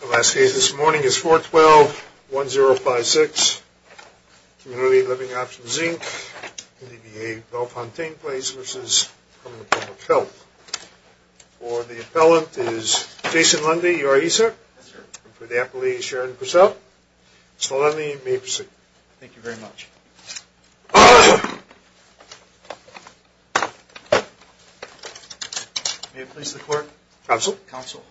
The last case this morning is 412-1056, Community Living Options, Inc., NDBA, Bellefontaine Place v. Department of Public Health. For the appellant is Jason Lundy. Are you ready, sir? Yes, sir. And for the appellee is Sharon Purcell. Mr. Lundy, you may proceed. Thank you very much. May it please the Court? Counsel. Counsel.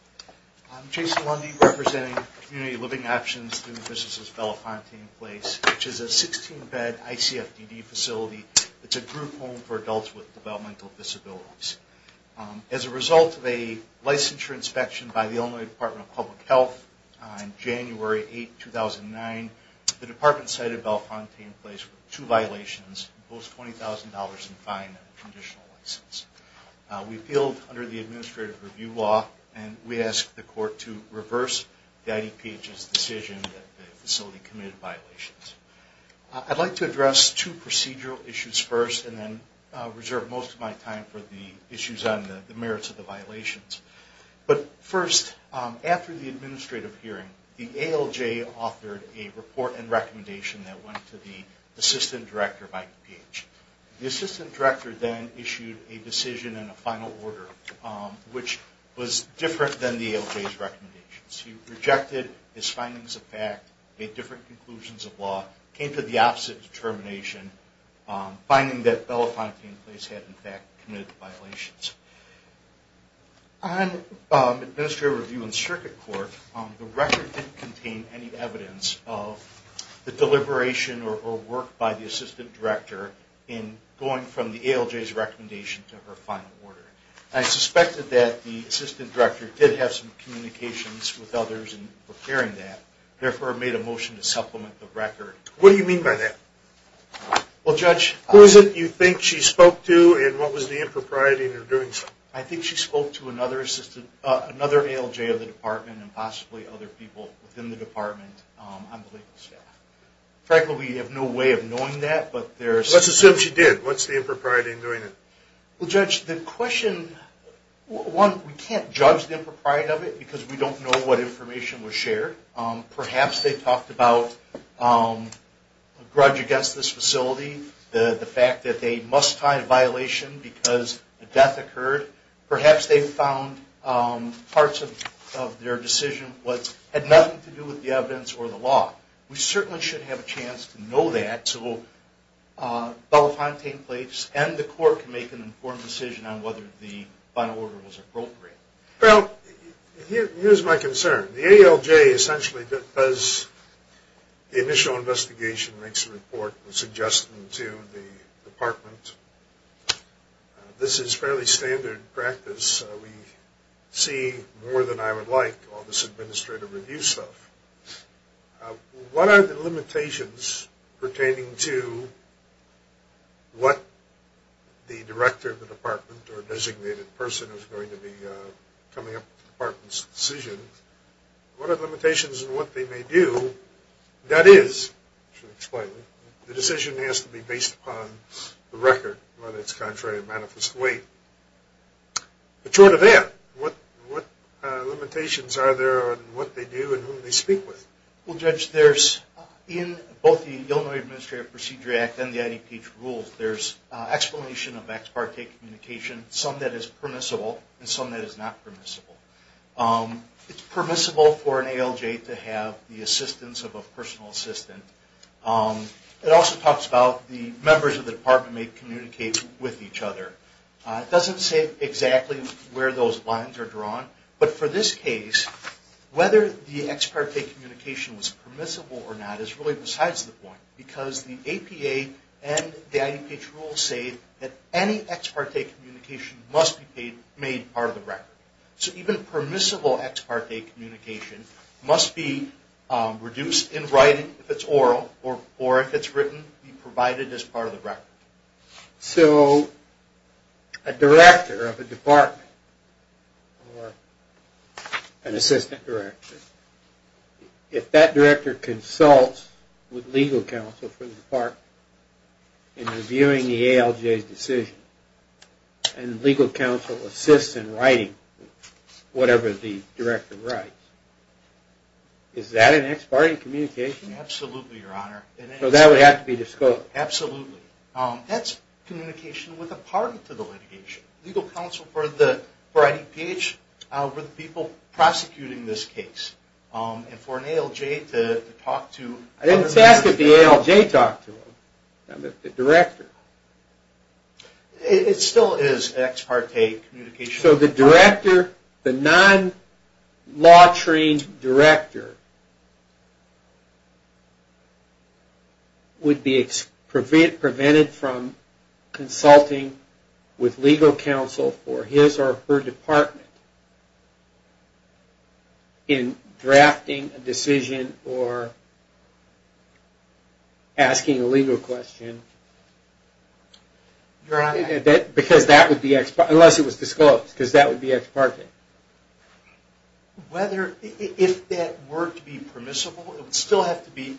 I'm Jason Lundy, representing Community Living Options through the businesses of Bellefontaine Place, which is a 16-bed ICFDD facility. It's a group home for adults with developmental disabilities. As a result of a licensure inspection by the Illinois Department of Public Health on January 8, 2009, the department cited Bellefontaine Place with two violations and imposed $20,000 in fine and a conditional license. We appealed under the administrative review law and we asked the court to reverse the IDPH's decision that the facility committed violations. I'd like to address two procedural issues first and then reserve most of my time for the issues on the merits of the violations. But first, after the administrative hearing, the ALJ authored a report and recommendation that went to the assistant director of IDPH. The assistant director then issued a decision and a final order, which was different than the ALJ's recommendations. He rejected his findings of fact, made different conclusions of law, came to the opposite determination, finding that Bellefontaine Place had in fact committed violations. On administrative review in circuit court, the record didn't contain any evidence of the deliberation or work by the assistant director in going from the ALJ's recommendation to her final order. I suspected that the assistant director did have some communications with others in preparing that, therefore made a motion to supplement the record. What do you mean by that? Well, Judge... Who is it you think she spoke to and what was the impropriety in her doing so? I think she spoke to another ALJ of the department and possibly other people within the department on the legal staff. Frankly, we have no way of knowing that, but there's... Let's assume she did. What's the impropriety in doing it? Well, Judge, the question... One, we can't judge the impropriety of it because we don't know what information was shared. Perhaps they talked about a grudge against this facility, the fact that they must find a violation because a death occurred. Perhaps they found parts of their decision had nothing to do with the evidence or the law. We certainly should have a chance to know that so we'll... And the court can make an informed decision on whether the final order was appropriate. Well, here's my concern. The ALJ essentially does the initial investigation, makes a report, suggests them to the department. This is fairly standard practice. We see more than I would like all this administrative review stuff. What are the limitations pertaining to what the director of the department or designated person is going to be coming up with the department's decision? What are the limitations in what they may do? That is, to explain it, the decision has to be based upon the record, whether it's contrary to manifest weight. But short of that, what limitations are there on what they do and who they speak with? Well, Judge, in both the Illinois Administrative Procedure Act and the IDPH rules, there's explanation of ex parte communication, some that is permissible and some that is not permissible. It's permissible for an ALJ to have the assistance of a personal assistant. It also talks about the members of the department may communicate with each other. It doesn't say exactly where those lines are drawn, but for this case, whether the ex parte communication was permissible or not is really besides the point, because the APA and the IDPH rules say that any ex parte communication must be made part of the record. So even permissible ex parte communication must be reduced in writing, if it's oral, or if it's written, be provided as part of the record. So a director of a department or an assistant director, if that director consults with legal counsel for the department in reviewing the ALJ's decision, and legal counsel assists in writing whatever the director writes, is that an ex parte communication? Absolutely, Your Honor. So that would have to be disclosed? Absolutely. That's communication with a party to the litigation. Legal counsel for the IDPH were the people prosecuting this case. And for an ALJ to talk to... I didn't ask if the ALJ talked to them, the director. It still is ex parte communication. So the director, the non-law trained director, would be prevented from consulting with legal counsel for his or her department in drafting a decision or asking a legal question, unless it was disclosed, because that would be ex parte. If that were to be permissible, it would still have to be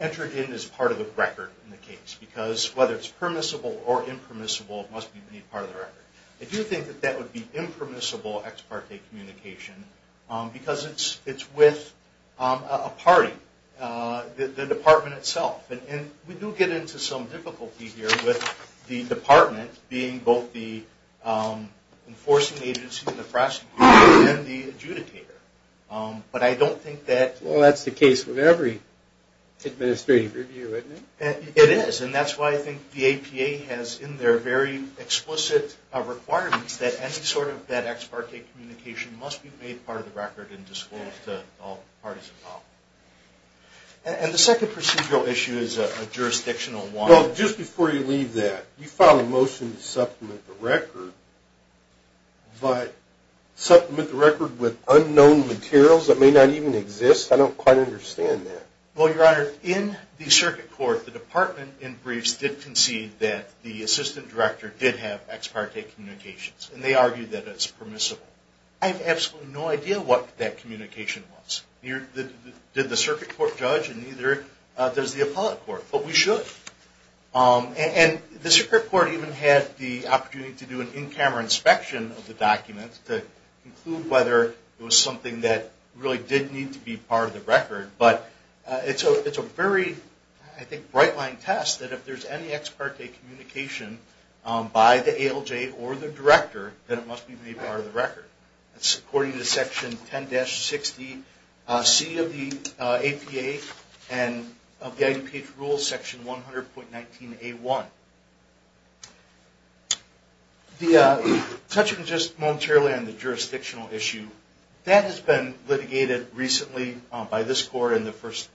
entered in as part of the record in the case, because whether it's permissible or impermissible, it must be made part of the record. I do think that that would be impermissible ex parte communication, because it's with a party, the department itself. And we do get into some difficulty here with the department being both the enforcing agency, the prosecutor, and the adjudicator. But I don't think that... Well, that's the case with every administrative review, isn't it? It is, and that's why I think the APA has in their very explicit requirements that any sort of that ex parte communication must be made part of the record and disclosed to all parties involved. And the second procedural issue is a jurisdictional one. Just before you leave that, you filed a motion to supplement the record, but supplement the record with unknown materials that may not even exist? I don't quite understand that. Well, Your Honor, in the circuit court, the department in briefs did concede that the assistant director did have ex parte communications, and they argued that it's permissible. I have absolutely no idea what that communication was. Did the circuit court judge? And neither does the appellate court. But we should. And the circuit court even had the opportunity to do an in-camera inspection of the document to conclude whether it was something that really did need to be part of the record. But it's a very, I think, bright-line test that if there's any ex parte communication by the ALJ or the director, then it must be made part of the record. It's according to Section 10-60C of the APA and of the IDPH Rules, Section 100.19A1. Touching just momentarily on the jurisdictional issue, that has been litigated recently by this court and the first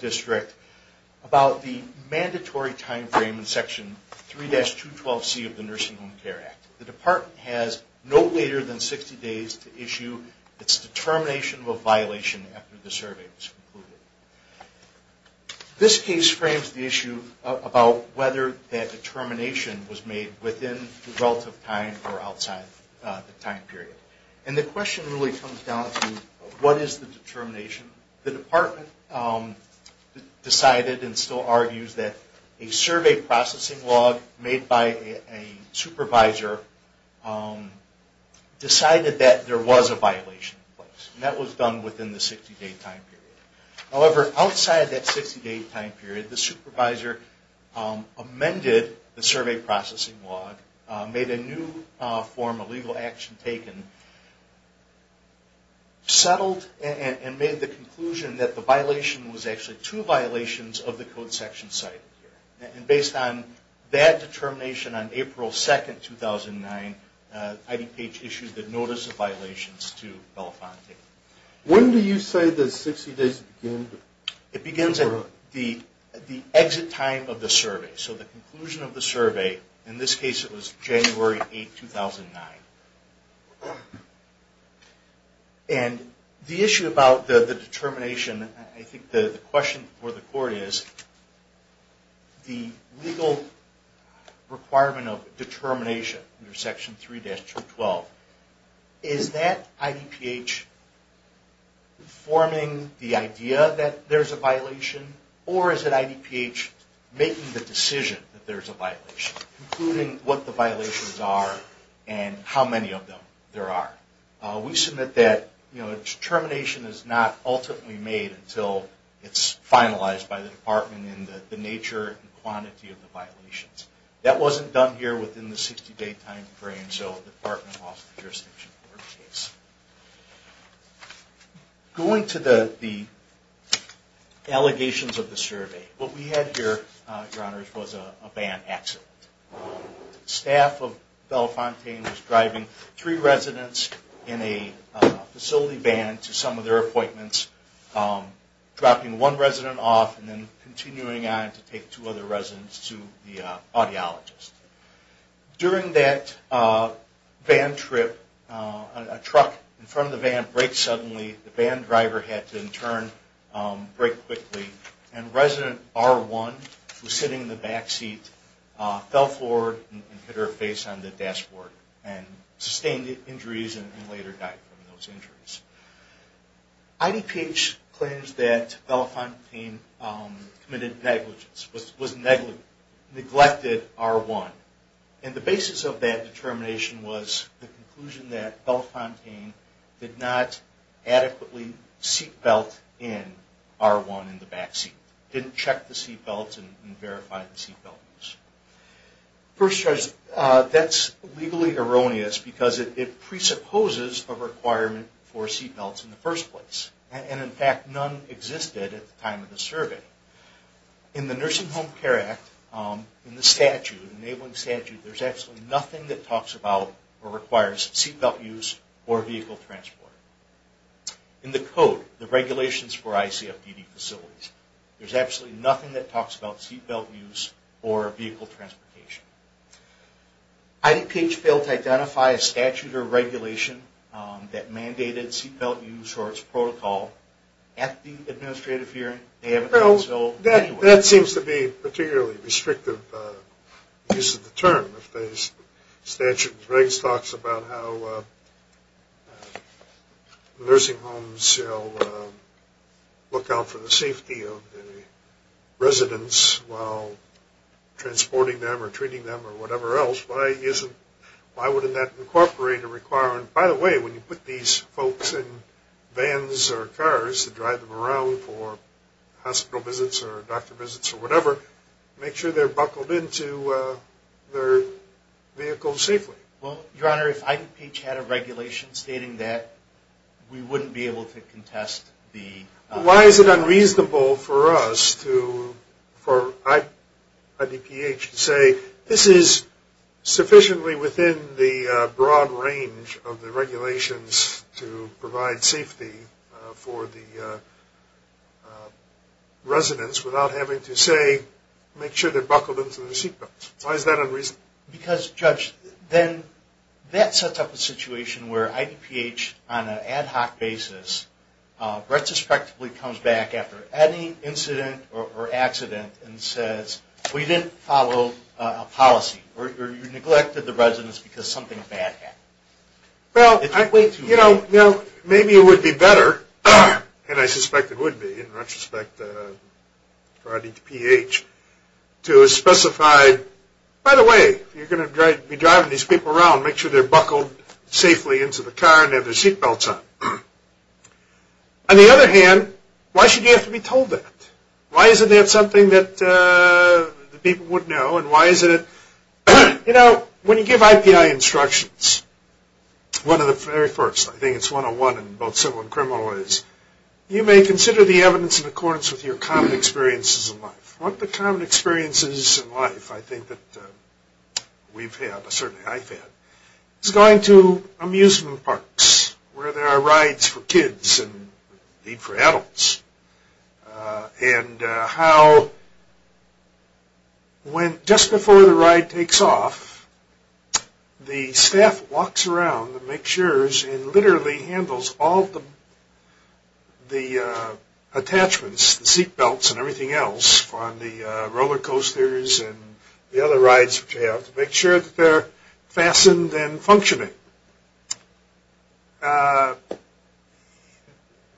district about the mandatory timeframe in Section 3-212C of the Nursing Home Care Act. The department has no later than 60 days to issue its determination of a violation after the survey was concluded. This case frames the issue about whether that determination was made within the relative time or outside the time period. And the question really comes down to what is the determination? The department decided and still argues that a survey processing log made by a supervisor decided that there was a violation in place. And that was done within the 60-day time period. However, outside that 60-day time period, the supervisor amended the survey processing log, made a new form of legal action taken, settled and made the conclusion that the violation was actually two violations of the Code Section cited here. And based on that determination on April 2, 2009, IDPH issued the Notice of Violations to Belafonte. When do you say the 60 days began? It begins at the exit time of the survey. So the conclusion of the survey, in this case it was January 8, 2009. And the issue about the determination, I think the question for the court is the legal requirement of determination under Section 3-212. Is that IDPH forming the idea that there's a violation? Or is it IDPH making the decision that there's a violation, including what the violations are and how many of them there are? We submit that determination is not ultimately made until it's finalized by the department in the nature and quantity of the violations. That wasn't done here within the 60-day time frame, so the department lost the jurisdiction for the case. Going to the allegations of the survey, what we had here, Your Honors, was a van accident. Staff of Belafonte was driving three residents in a facility van to some of their appointments, dropping one resident off and then continuing on to take two other residents to the audiologist. During that van trip, a truck in front of the van breaks suddenly. The van driver had to, in turn, break quickly. And resident R1, who was sitting in the back seat, fell forward and hit her face on the dashboard and sustained injuries and later died from those injuries. IDPH claims that Belafonte committed negligence, was neglected R1. And the basis of that determination was the conclusion that Belafonte did not adequately seat belt in R1 in the back seat, didn't check the seat belts and verify the seat belts. First Judge, that's legally erroneous because it presupposes a requirement for seat belts in the first place. And in fact, none existed at the time of the survey. In the Nursing Home Care Act, in the statute, the enabling statute, there's absolutely nothing that talks about or requires seat belt use or vehicle transport. In the code, the regulations for ICFDD facilities, there's absolutely nothing that talks about seat belt use or vehicle transportation. IDPH failed to identify a statute or regulation that mandated seat belt use or its protocol. At the administrative hearing, they haven't done so anyway. That seems to be a particularly restrictive use of the term. If the statute regs talks about how nursing homes look out for the safety of the residents while transporting them or treating them or whatever else, why wouldn't that incorporate a requirement? By the way, when you put these folks in vans or cars to drive them around for hospital visits or doctor visits or whatever, make sure they're buckled into their vehicle safely. Well, Your Honor, if IDPH had a regulation stating that, we wouldn't be able to contest the… Why is it unreasonable for us to, for IDPH to say, this is sufficiently within the broad range of the regulations to provide safety for the residents without having to say, make sure they're buckled into their seat belts. Why is that unreasonable? Because, Judge, then that sets up a situation where IDPH on an ad hoc basis retrospectively comes back after any incident or accident and says, we didn't follow a policy or you neglected the residents because something bad happened. Well, you know, maybe it would be better, and I suspect it would be in retrospect for IDPH, to specify, by the way, you're going to be driving these people around, make sure they're buckled safely into the car and have their seat belts on. On the other hand, why should you have to be told that? Why isn't that something that the people would know and why isn't it… You know, when you give IPI instructions, one of the very first, I think it's 101 in both civil and criminal ways, you may consider the evidence in accordance with your common experiences in life. One of the common experiences in life, I think that we've had, certainly I've had, is going to amusement parks where there are rides for kids and, indeed, for adults, and how just before the ride takes off, the staff walks around and makes sure and literally handles all the attachments, the seat belts and everything else on the roller coasters and the other rides that you have to make sure that they're fastened and functioning.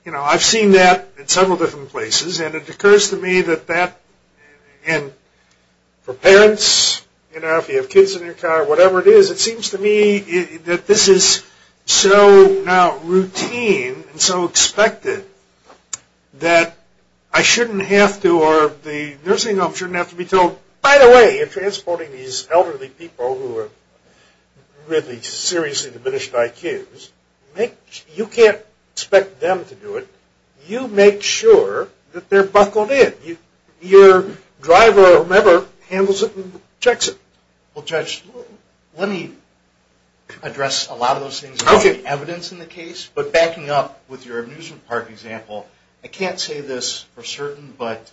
You know, I've seen that in several different places and it occurs to me that that… and for parents, you know, if you have kids in your car, whatever it is, it seems to me that this is so now routine and so expected that I shouldn't have to or the nursing home shouldn't have to be told, by the way, transporting these elderly people who have really seriously diminished IQs, you can't expect them to do it. You make sure that they're buckled in. Your driver or member handles it and checks it. Well, Judge, let me address a lot of those things. There's evidence in the case, but backing up with your amusement park example, I can't say this for certain, but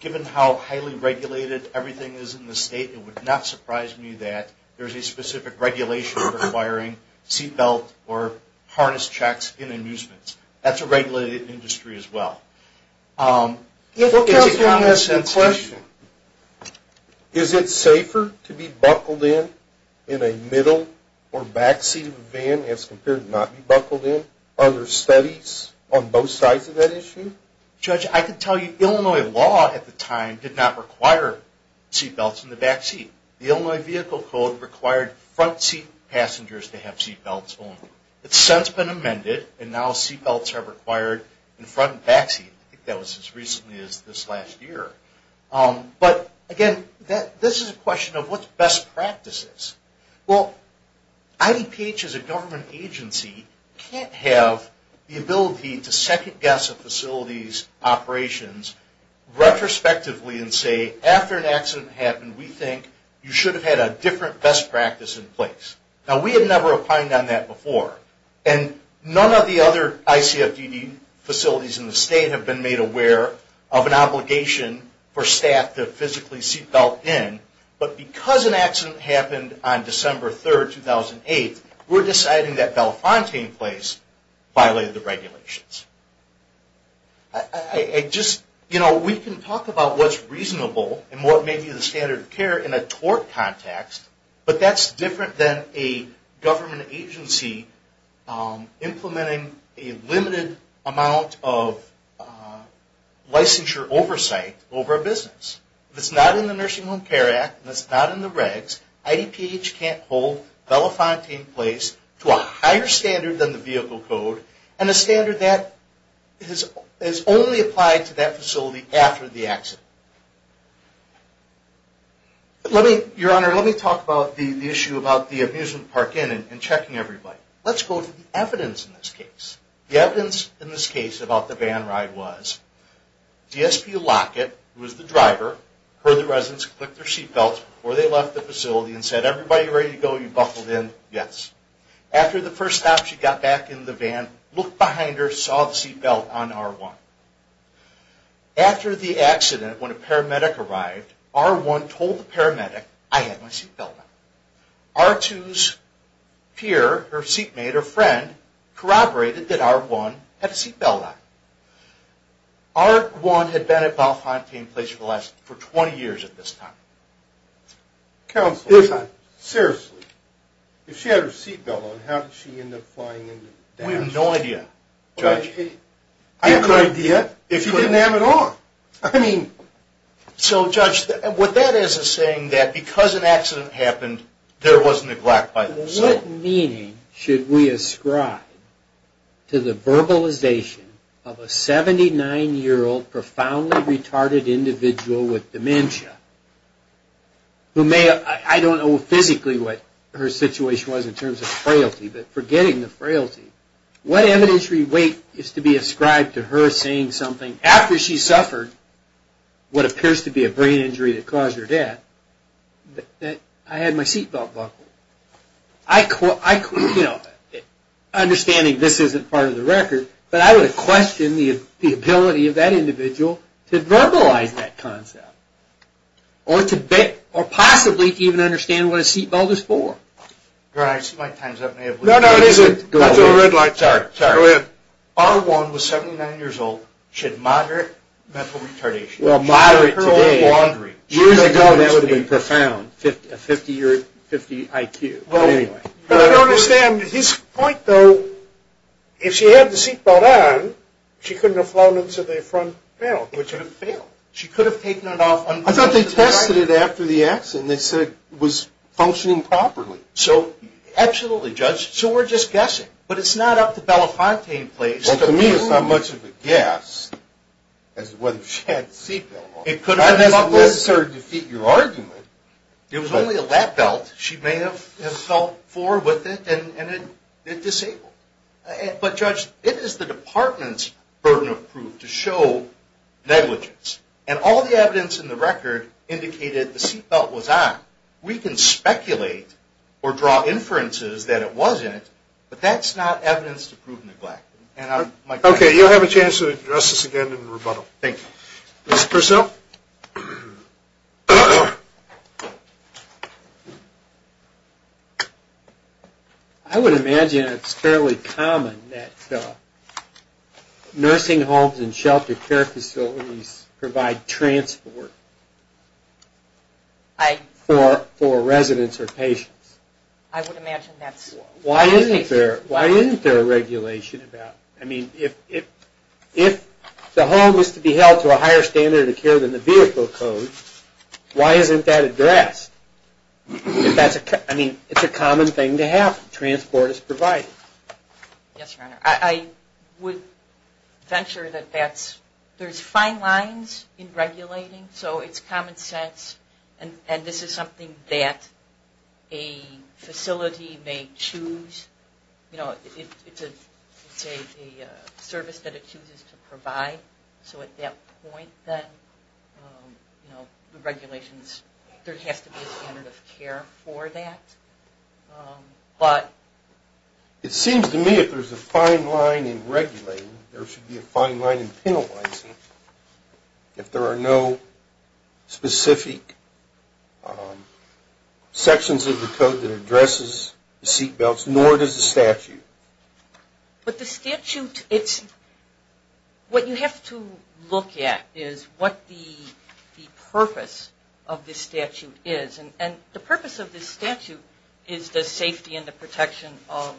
given how highly regulated everything is in the state, it would not surprise me that there's a specific regulation requiring seat belt or harness checks in amusements. That's a regulated industry as well. Is it safer to be buckled in in a middle or back seat of a van as compared to not be buckled in? Are there studies on both sides of that issue? Judge, I can tell you Illinois law at the time did not require seat belts in the back seat. The Illinois Vehicle Code required front seat passengers to have seat belts only. It's since been amended and now seat belts are required in front and back seat. I think that was as recently as this last year. But, again, this is a question of what's best practices. Well, IDPH as a government agency can't have the ability to second guess a facility's operations retrospectively and say, after an accident happened, we think you should have had a different best practice in place. Now, we had never opined on that before, and none of the other ICFDD facilities in the state have been made aware of an obligation for staff to physically seat belt in. But because an accident happened on December 3, 2008, we're deciding that Belfonte in place violated the regulations. We can talk about what's reasonable and what may be the standard of care in a tort context, but that's different than a government agency implementing a limited amount of licensure oversight over a business. If it's not in the Nursing Home Care Act and it's not in the regs, IDPH can't hold Belfonte in place to a higher standard than the Vehicle Code and a standard that is only applied to that facility after the accident. Your Honor, let me talk about the issue about the amusement park in and checking everybody. Let's go to the evidence in this case. The evidence in this case about the van ride was DSP Lockett, who was the driver, heard the residents click their seat belts before they left the facility and said, everybody ready to go? You buckled in? Yes. After the first stop, she got back in the van, looked behind her, saw the seat belt on R1. After the accident, when a paramedic arrived, R1 told the paramedic, I had my seat belt on. R2's peer, her seatmate, her friend, corroborated that R1 had a seat belt on. R1 had been at Belfonte in place for 20 years at this time. Counsel, seriously, if she had her seat belt on, how did she end up flying into damage? We have no idea, Judge. You have no idea? She didn't have it on. I mean, so Judge, what that is, is saying that because an accident happened, there was neglect by the facility. What meaning should we ascribe to the verbalization of a 79-year-old profoundly retarded individual with dementia, who may have, I don't know physically what her situation was in terms of frailty, but forgetting the frailty, what evidentiary weight is to be ascribed to her saying something after she suffered what appears to be a brain injury that caused her death, that I had my seat belt buckled. Understanding this isn't part of the record, but I would question the ability of that individual to verbalize that concept, or possibly to even understand what a seat belt is for. Your Honor, I see my time's up. No, no, it isn't. That's a red light. Sorry, sorry. Go ahead. Bar 1 was 79 years old. She had moderate mental retardation. Well, moderate today. Her whole laundry. Years ago, that would have been profound. A 50-year, 50 IQ. But I don't understand. His point, though, if she had the seat belt on, she couldn't have flown into the front belt. She couldn't have failed. She could have taken it off. I thought they tested it after the accident. They said it was functioning properly. So, absolutely, Judge. So we're just guessing. But it's not up to Belafonte in place. Well, to me, it's not much of a guess as to whether she had the seat belt on. It could have been buckled. That doesn't necessarily defeat your argument. It was only a lap belt. She may have fell forward with it, and it disabled her. But, Judge, it is the Department's burden of proof to show negligence. And all the evidence in the record indicated the seat belt was on. We can speculate or draw inferences that it wasn't, but that's not evidence to prove neglect. Okay. You'll have a chance to address this again in rebuttal. Thank you. Mr. Purcell? Well, I would imagine it's fairly common that nursing homes and shelter care facilities provide transport for residents or patients. I would imagine that's true. Why isn't there a regulation about – I mean, if the home is to be held to a higher standard of care than the vehicle code, why isn't that addressed? I mean, it's a common thing to have. Transport is provided. Yes, Your Honor. I would venture that there's fine lines in regulating, so it's common sense. And this is something that a facility may choose. It's a service that it chooses to provide. So at that point, then, the regulations – there has to be a standard of care for that. But it seems to me if there's a fine line in regulating, there should be a fine line in penalizing if there are no specific sections of the code that addresses the seatbelts, nor does the statute. But the statute – what you have to look at is what the purpose of this statute is. And the purpose of this statute is the safety and the protection of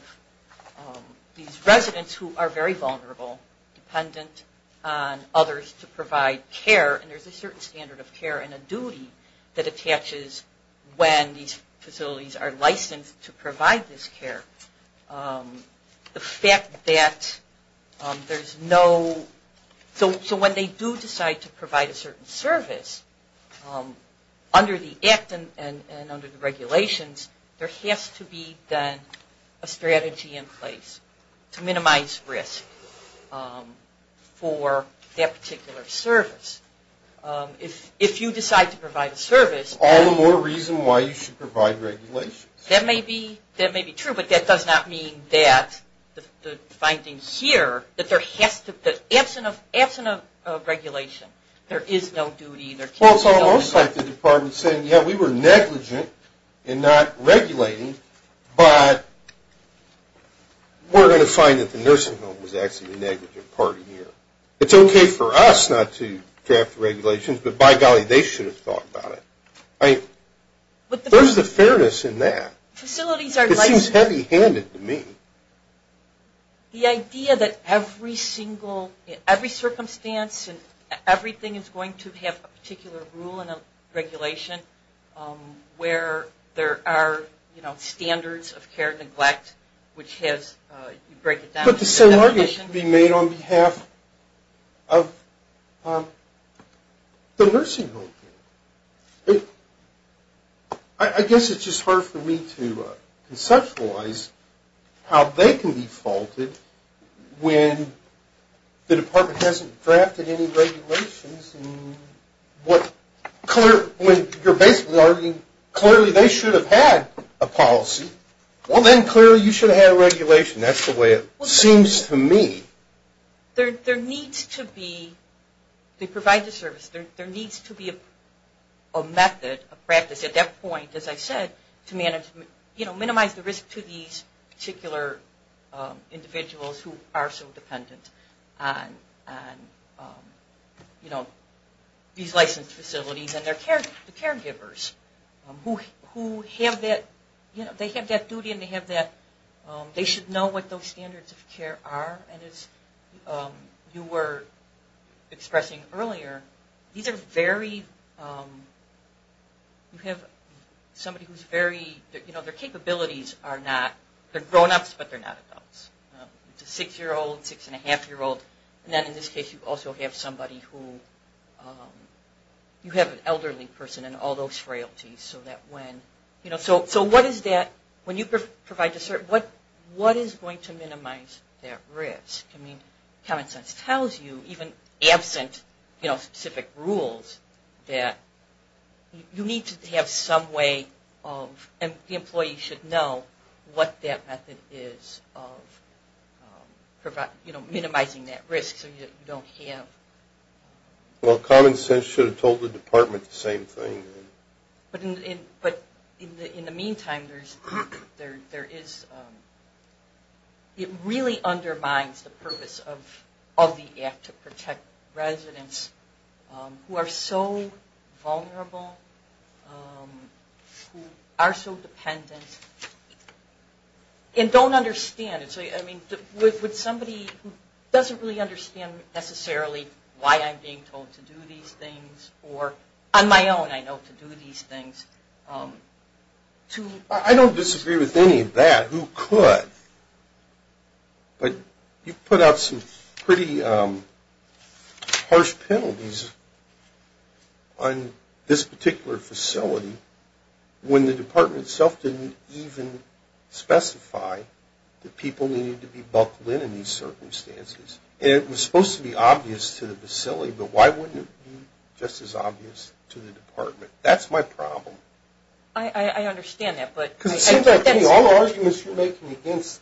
these residents who are very vulnerable, dependent on others to provide care. And there's a certain standard of care and a duty that attaches when these facilities are licensed to provide this care. The fact that there's no – so when they do decide to provide a certain service, under the Act and under the regulations, there has to be a strategy in place to minimize risk for that particular service. If you decide to provide a service – All the more reason why you should provide regulations. That may be true, but that does not mean that the finding here that there has to – that absent of regulation, there is no duty. Well, it's almost like the department's saying, yeah, we were negligent in not regulating, but we're going to find that the nursing home was actually the negligent part here. It's okay for us not to draft the regulations, but by golly, they should have thought about it. I mean, there's a fairness in that. It seems heavy-handed to me. The idea that every single – every circumstance and everything is going to have a particular rule and a regulation where there are, you know, standards of care and neglect, which has – But the same argument can be made on behalf of the nursing home. I guess it's just hard for me to conceptualize how they can be faulted when the department hasn't drafted any regulations and what – when you're basically arguing clearly they should have had a policy. Well, then clearly you should have had a regulation. That's the way it seems to me. There needs to be – they provide the service. There needs to be a method, a practice at that point, as I said, to manage – you know, minimize the risk to these particular individuals who are so dependent on, you know, these licensed facilities and their caregivers who have that – you know, they have that duty and they have that – they should know what those standards of care are. And as you were expressing earlier, these are very – you have somebody who's very – you know, their capabilities are not – they're grown-ups, but they're not adults. It's a six-year-old, six-and-a-half-year-old. And then in this case, you also have somebody who – you have an elderly person and all those frailties so that when – you know, so what is that – when you provide the service, what is going to minimize that risk? I mean, common sense tells you, even absent, you know, specific rules, that you need to have some way of – and the employee should know what that method is of, you know, minimizing that risk so you don't have – Well, common sense should have told the department the same thing. But in the meantime, there is – it really undermines the purpose of the act to protect residents who are so vulnerable, who are so dependent, and don't understand. I mean, would somebody who doesn't really understand necessarily why I'm being told to do these things, or on my own I know to do these things, to – harsh penalties on this particular facility when the department itself didn't even specify that people needed to be buckled in in these circumstances? And it was supposed to be obvious to the facility, but why wouldn't it be just as obvious to the department? That's my problem. I understand that, but – Because it seems like to me all the arguments you're making against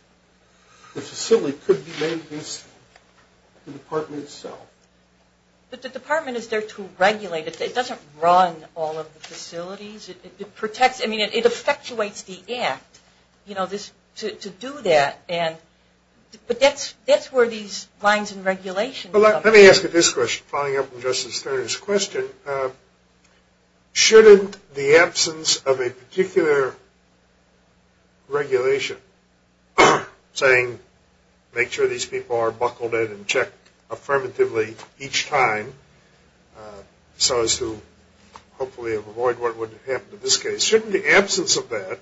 the facility could be made against the department itself. But the department is there to regulate it. It doesn't run all of the facilities. It protects – I mean, it effectuates the act, you know, to do that. But that's where these lines and regulations come in. Let me ask you this question, following up on Justice Stern's question. Shouldn't the absence of a particular regulation saying, make sure these people are buckled in and checked affirmatively each time, so as to hopefully avoid what would happen in this case, shouldn't the absence of that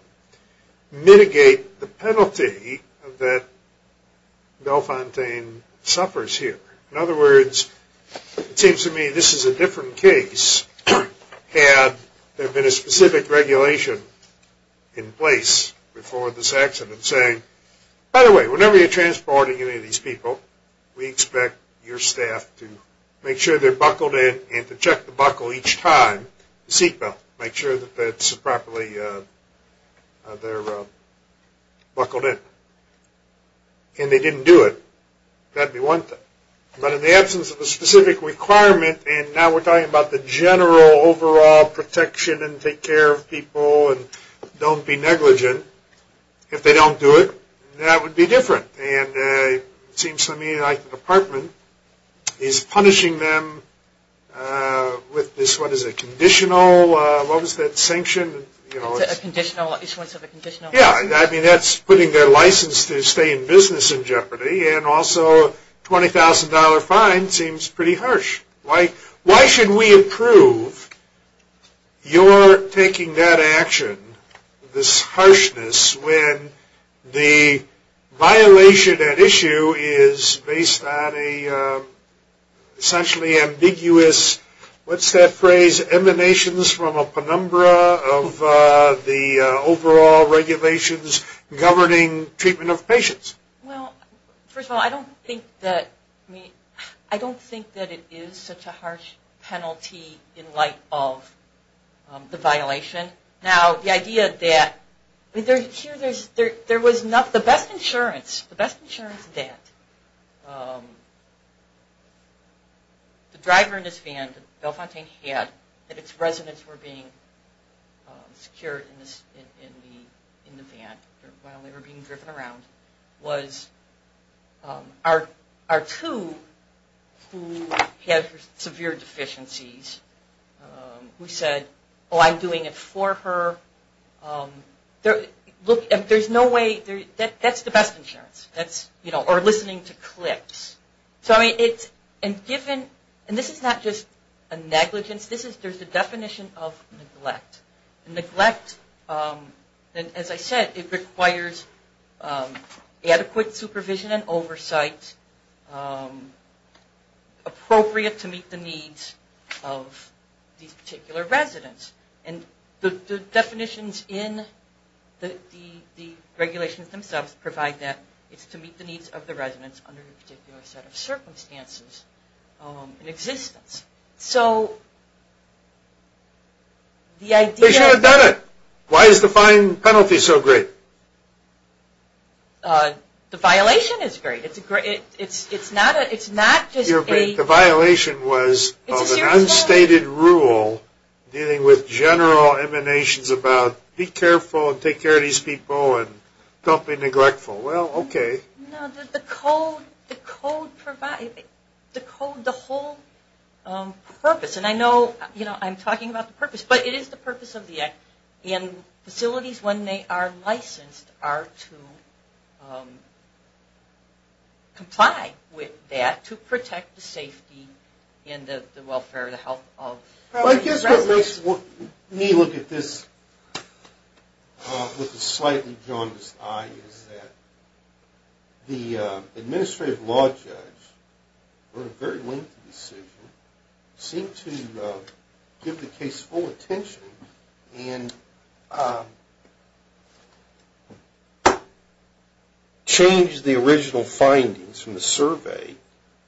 mitigate the penalty that Bellefontaine suffers here? In other words, it seems to me this is a different case had there been a specific regulation in place before this accident saying, by the way, whenever you're transporting any of these people, we expect your staff to make sure they're buckled in and to check the buckle each time, the seatbelt, make sure that that's properly – they're buckled in. And they didn't do it. That'd be one thing. But in the absence of a specific requirement, and now we're talking about the general overall protection and take care of people and don't be negligent, if they don't do it, that would be different. And it seems to me like the department is punishing them with this, what is it, conditional – what was that, sanction? It's a conditional – it's sort of a conditional. Yeah, I mean, that's putting their license to stay in business in jeopardy and also a $20,000 fine seems pretty harsh. Why should we approve your taking that action, this harshness, when the violation at issue is based on a essentially ambiguous – what's that phrase? Emanations from a penumbra of the overall regulations governing treatment of patients. Well, first of all, I don't think that – I mean, I don't think that it is such a harsh penalty in light of the violation. Now, the idea that – I mean, here there was not – the best insurance, the best insurance that the driver in this van, that Bellefontaine had, that its residents were being secured in the van while they were being driven around, was our two who had severe deficiencies who said, oh, I'm doing it for her. Look, there's no way – that's the best insurance, or listening to clips. So, I mean, it's – and given – and this is not just a negligence, there's a definition of neglect. Neglect, as I said, it requires adequate supervision and oversight, appropriate to meet the needs of these particular residents. And the definitions in the regulations themselves provide that it's to meet the needs of the residents under a particular set of circumstances in existence. So, the idea – They should have done it. Why is the fine penalty so great? The violation is great. It's not just a – The general emanations about be careful and take care of these people and don't be neglectful. Well, okay. No, the code provides – the code, the whole purpose, and I know, you know, I'm talking about the purpose, but it is the purpose of the act. And facilities, when they are licensed, are to comply with that to protect the safety and the welfare and the health of the residents. Well, I guess what makes me look at this with a slightly jaundiced eye is that the administrative law judge on a very lengthy decision seemed to give the case full attention and change the original findings from the survey.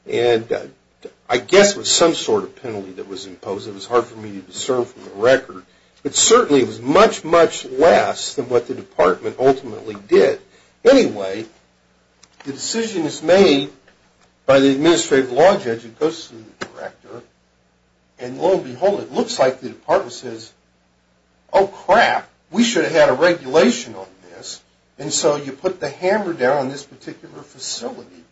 And I guess it was some sort of penalty that was imposed. It was hard for me to discern from the record. But certainly, it was much, much less than what the department ultimately did. Anyway, the decision is made by the administrative law judge. It goes to the director. And lo and behold, it looks like the department says, Oh, crap. We should have had a regulation on this. And so you put the hammer down on this particular facility.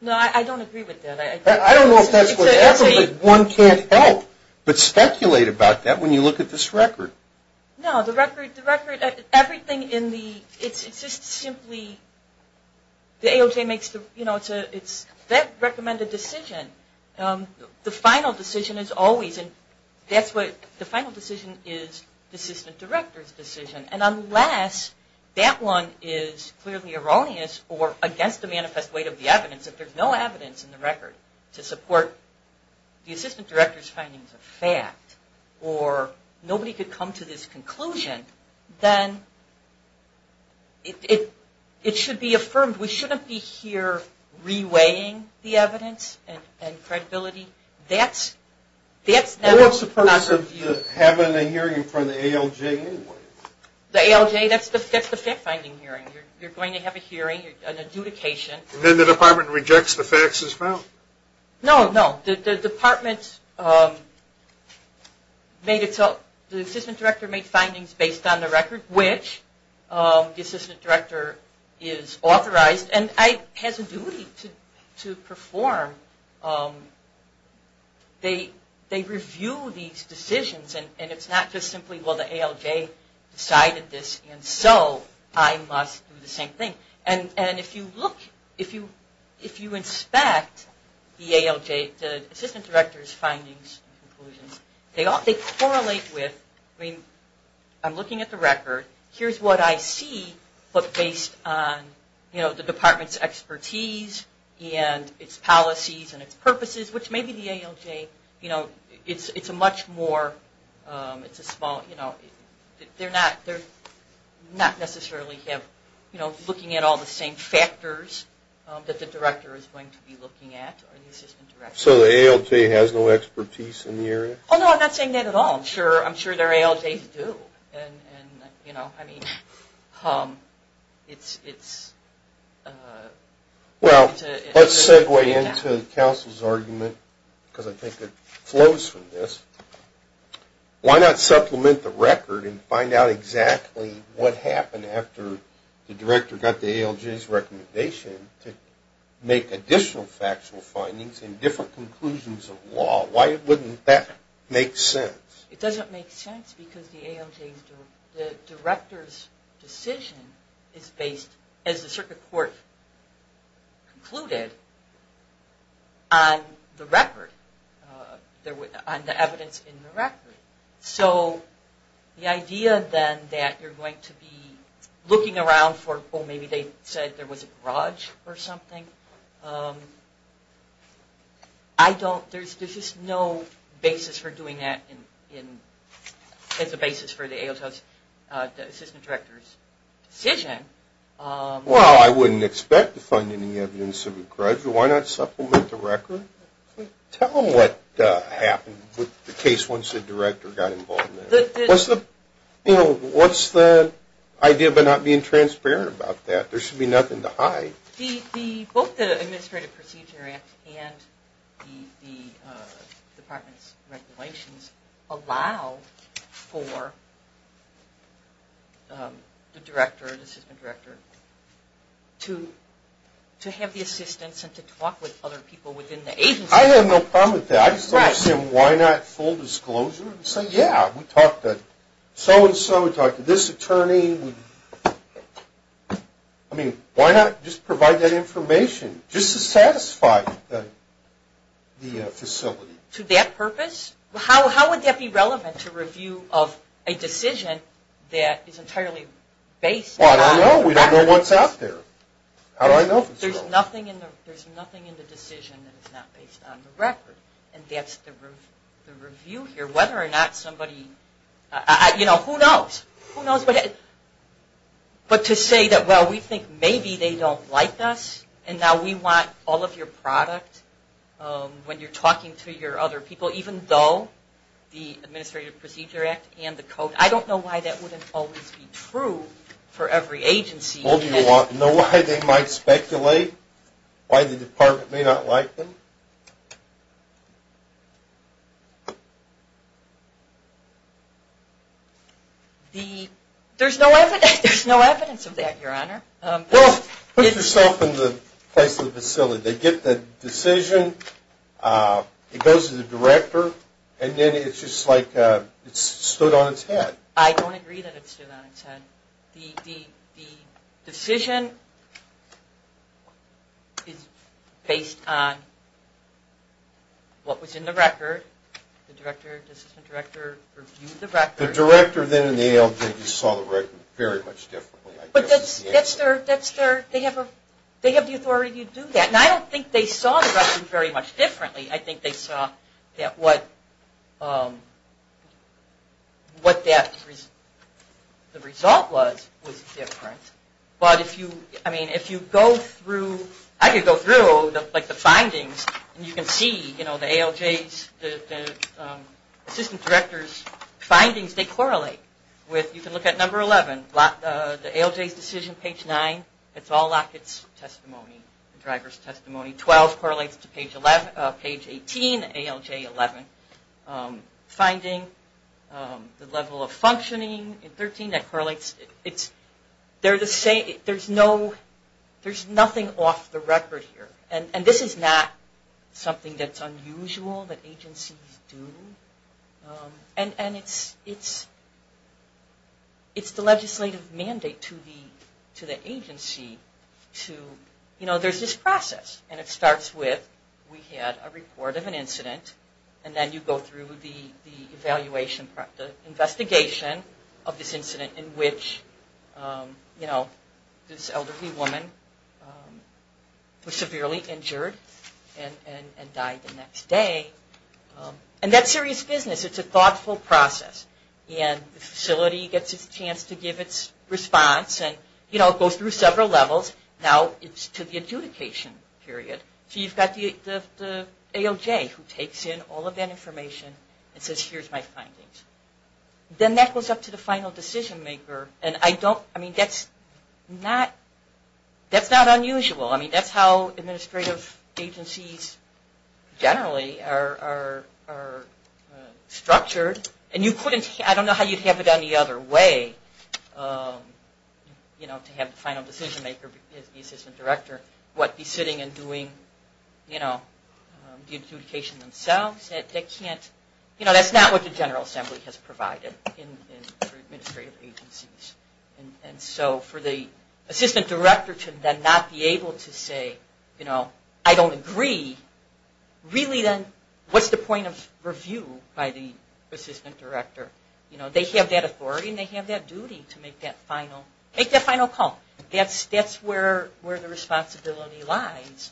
No, I don't agree with that. I don't know if that's whatever, but one can't help but speculate about that when you look at this record. No, the record – everything in the – it's just simply – the AOJ makes the – you know, it's that recommended decision. The final decision is always – and that's what – the final decision is the assistant director's decision. And unless that one is clearly erroneous or against the manifest weight of the evidence, if there's no evidence in the record to support the assistant director's findings of fact, or nobody could come to this conclusion, then it should be affirmed. We shouldn't be here re-weighing the evidence and credibility. That's – that's not – Well, what's the purpose of having a hearing in front of the AOJ anyway? The AOJ – that's the fact-finding hearing. You're going to have a hearing, an adjudication. And then the department rejects the facts as found? No, no. The department made its – the assistant director made findings based on the record, which the assistant director is authorized and has a duty to perform. They review these decisions, and it's not just simply, well, the AOJ decided this, and so I must do the same thing. And if you look – if you inspect the AOJ, the assistant director's findings and conclusions, they correlate with – I mean, I'm looking at the record. Here's what I see, but based on, you know, the department's expertise and its policies and its purposes, which maybe the AOJ, you know, it's a much more – it's a small – you know, they're not necessarily looking at all the same factors that the director is going to be looking at, or the assistant director. So the AOJ has no expertise in the area? Oh, no, I'm not saying that at all. I'm sure their AOJs do. And, you know, I mean, it's – Well, let's segue into counsel's argument, because I think it flows from this. Why not supplement the record and find out exactly what happened after the director got the AOJ's recommendation to make additional factual findings and different conclusions of law? Why wouldn't that make sense? It doesn't make sense because the AOJ's – the director's decision is based, as the circuit court concluded, on the record – on the evidence in the record. So the idea, then, that you're going to be looking around for – I don't – there's just no basis for doing that as a basis for the AOJ's – the assistant director's decision. Well, I wouldn't expect to find any evidence of a grudge. Why not supplement the record? Tell them what happened with the case once the director got involved in it. What's the – you know, what's the idea of not being transparent about that? There should be nothing to hide. The – both the Administrative Procedure Act and the department's regulations allow for the director, the assistant director, to have the assistance and to talk with other people within the agency. I have no problem with that. I just don't understand why not full disclosure and say, yeah, we talked to so-and-so, we talked to this attorney. I mean, why not just provide that information just to satisfy the facility? To that purpose? How would that be relevant to review of a decision that is entirely based on – Well, I don't know. We don't know what's out there. How do I know if it's – There's nothing in the – there's nothing in the decision that is not based on the record. And that's the review here. Whether or not somebody – you know, who knows? Who knows what – but to say that, well, we think maybe they don't like us, and now we want all of your product when you're talking to your other people, even though the Administrative Procedure Act and the code – I don't know why that wouldn't always be true for every agency. Well, do you know why they might speculate why the department may not like them? The – there's no evidence of that, Your Honor. Well, put yourself in the place of the facility. They get the decision, it goes to the director, and then it's just like it's stood on its head. I don't agree that it's stood on its head. The decision is based on what was in the record. The director, the assistant director reviewed the record. The director then in the ALJ just saw the record very much differently. But that's their – they have the authority to do that. And I don't think they saw the record very much differently. I think they saw that what that – the result was, was different. But if you – I mean, if you go through – I could go through, like, the findings, and you can see, you know, the ALJ's – the assistant director's findings, they correlate. You can look at number 11, the ALJ's decision, page 9, it's all Lockett's testimony, the driver's testimony. 12 correlates to page 11 – page 18, ALJ 11. Finding the level of functioning in 13, that correlates. It's – they're the same – there's no – there's nothing off the record here. And this is not something that's unusual that agencies do. And it's the legislative mandate to the agency to – you know, there's this process. And it starts with, we had a report of an incident. And then you go through the evaluation – the investigation of this incident in which, you know, this elderly woman was severely injured and died the next day. And that's serious business. It's a thoughtful process. And the facility gets its chance to give its response. And, you know, it goes through several levels. Now it's to the adjudication period. So you've got the ALJ who takes in all of that information and says, here's my findings. Then that goes up to the final decision maker. And I don't – I mean, that's not – that's not unusual. I mean, that's how administrative agencies generally are structured. And you couldn't – I don't know how you'd have it any other way, you know, to have the final decision maker be the assistant director. What, be sitting and doing, you know, the adjudication themselves? That can't – you know, that's not what the General Assembly has provided for administrative agencies. And so for the assistant director to then not be able to say, you know, I don't agree, really then what's the point of review by the assistant director? You know, they have that authority and they have that duty to make that final – make that final call. That's where the responsibility lies.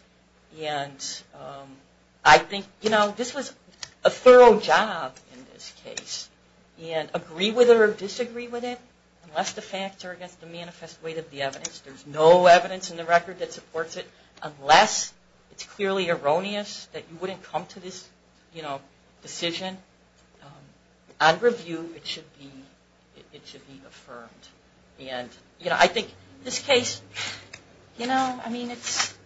And I think, you know, this was a thorough job in this case. And agree with it or disagree with it, unless the facts are against the manifest weight of the evidence. There's no evidence in the record that supports it unless it's clearly erroneous that you wouldn't come to this, you know, decision. On review it should be – it should be affirmed. And, you know, I think this case, you know, I mean, it's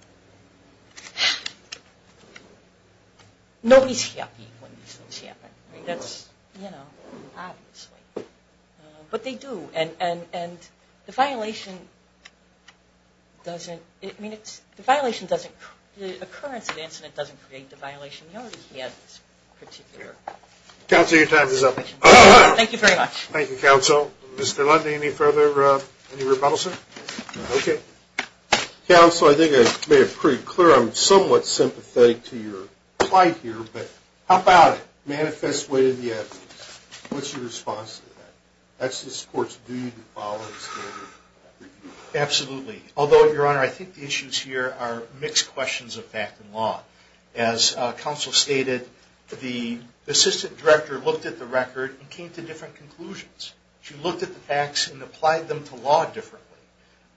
– nobody's happy when these things happen. I mean, that's, you know, obviously. But they do. And the violation doesn't – I mean, it's – the violation doesn't – the occurrence of the incident doesn't create the violation. We already had this particular. Counsel, your time is up. Thank you very much. Thank you, counsel. Mr. Lundy, any further – any rebuttal, sir? Okay. Counsel, I think I made it pretty clear I'm somewhat sympathetic to your plight here. But how about it? Manifest weight of the evidence. What's your response to that? That's the court's duty to follow the standard. Absolutely. Although, your honor, I think the issues here are mixed questions of fact and law. As counsel stated, the assistant director looked at the record and came to different conclusions. She looked at the facts and applied them to law differently.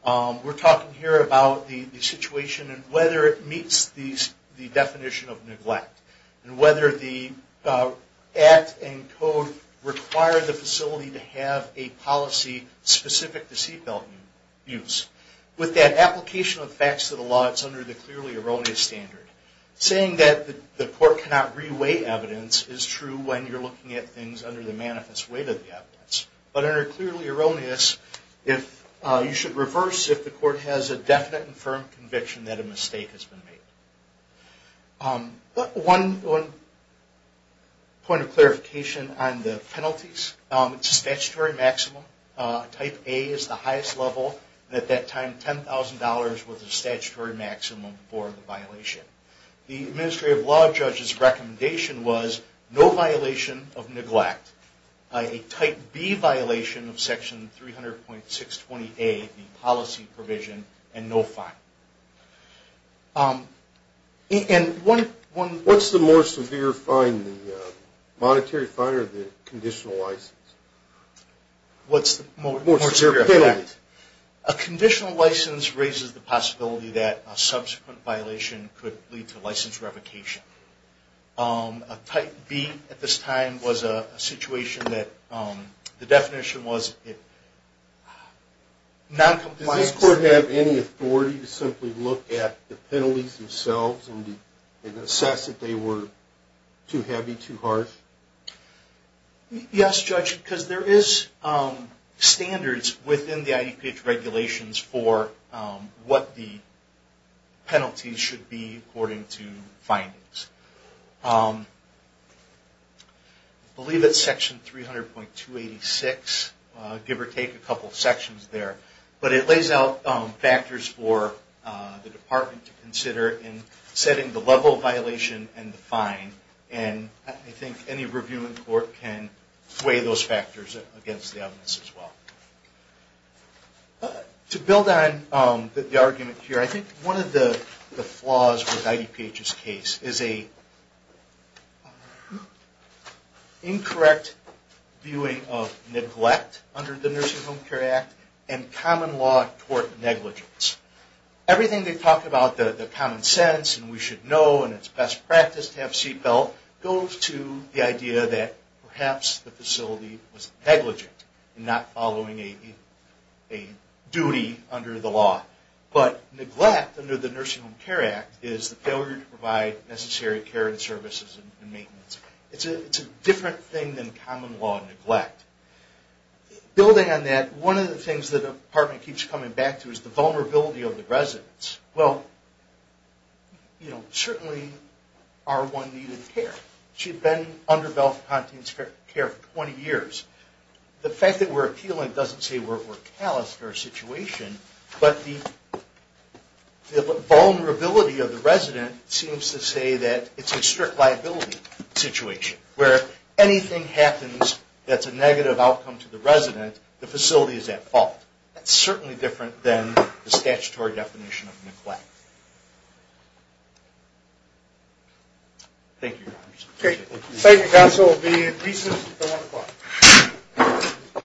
We're talking here about the situation and whether it meets the definition of neglect. And whether the act and code require the facility to have a policy specific to seat belt abuse. With that application of facts to the law, it's under the clearly erroneous standard. Saying that the court cannot re-weigh evidence is true when you're looking at things under the manifest weight of the evidence. But under clearly erroneous, you should reverse if the court has a definite and firm conviction that a mistake has been made. One point of clarification on the penalties. It's a statutory maximum. Type A is the highest level. At that time, $10,000 was the statutory maximum for the violation. The administrative law judge's recommendation was no violation of neglect. A type B violation of section 300.620A, the policy provision, and no fine. What's the more severe monetary fine or the conditional license? What's the more severe penalty? A conditional license raises the possibility that a subsequent violation could lead to license revocation. A type B at this time was a situation that the definition was noncompliance. Does this court have any authority to simply look at the penalties themselves and assess if they were too heavy, too harsh? Yes, Judge, because there is standards within the IEPH regulations for what the penalties should be according to findings. I believe it's section 300.286, give or take a couple sections there. But it lays out factors for the department to consider in setting the level of violation and the fine. I think any review in court can weigh those factors against the evidence as well. To build on the argument here, I think one of the flaws with IEPH's case is an incorrect viewing of neglect under the Nursing Home Care Act and common law court negligence. Everything they talk about, the common sense and we should know and it's best practice to have seatbelts, goes to the idea that perhaps the facility was negligent in not following a duty under the law. But neglect under the Nursing Home Care Act is the failure to provide necessary care and services and maintenance. It's a different thing than common law neglect. Building on that, one of the things the department keeps coming back to is the vulnerability of the residents. Well, you know, certainly R1 needed care. She had been under Belfontine's care for 20 years. The fact that we're appealing doesn't say we're callous in our situation, but the vulnerability of the resident seems to say that it's a strict liability situation where if anything happens that's a negative outcome to the resident, the facility is at fault. That's certainly different than the statutory definition of neglect. Thank you, Your Honors. Thank you, Counsel.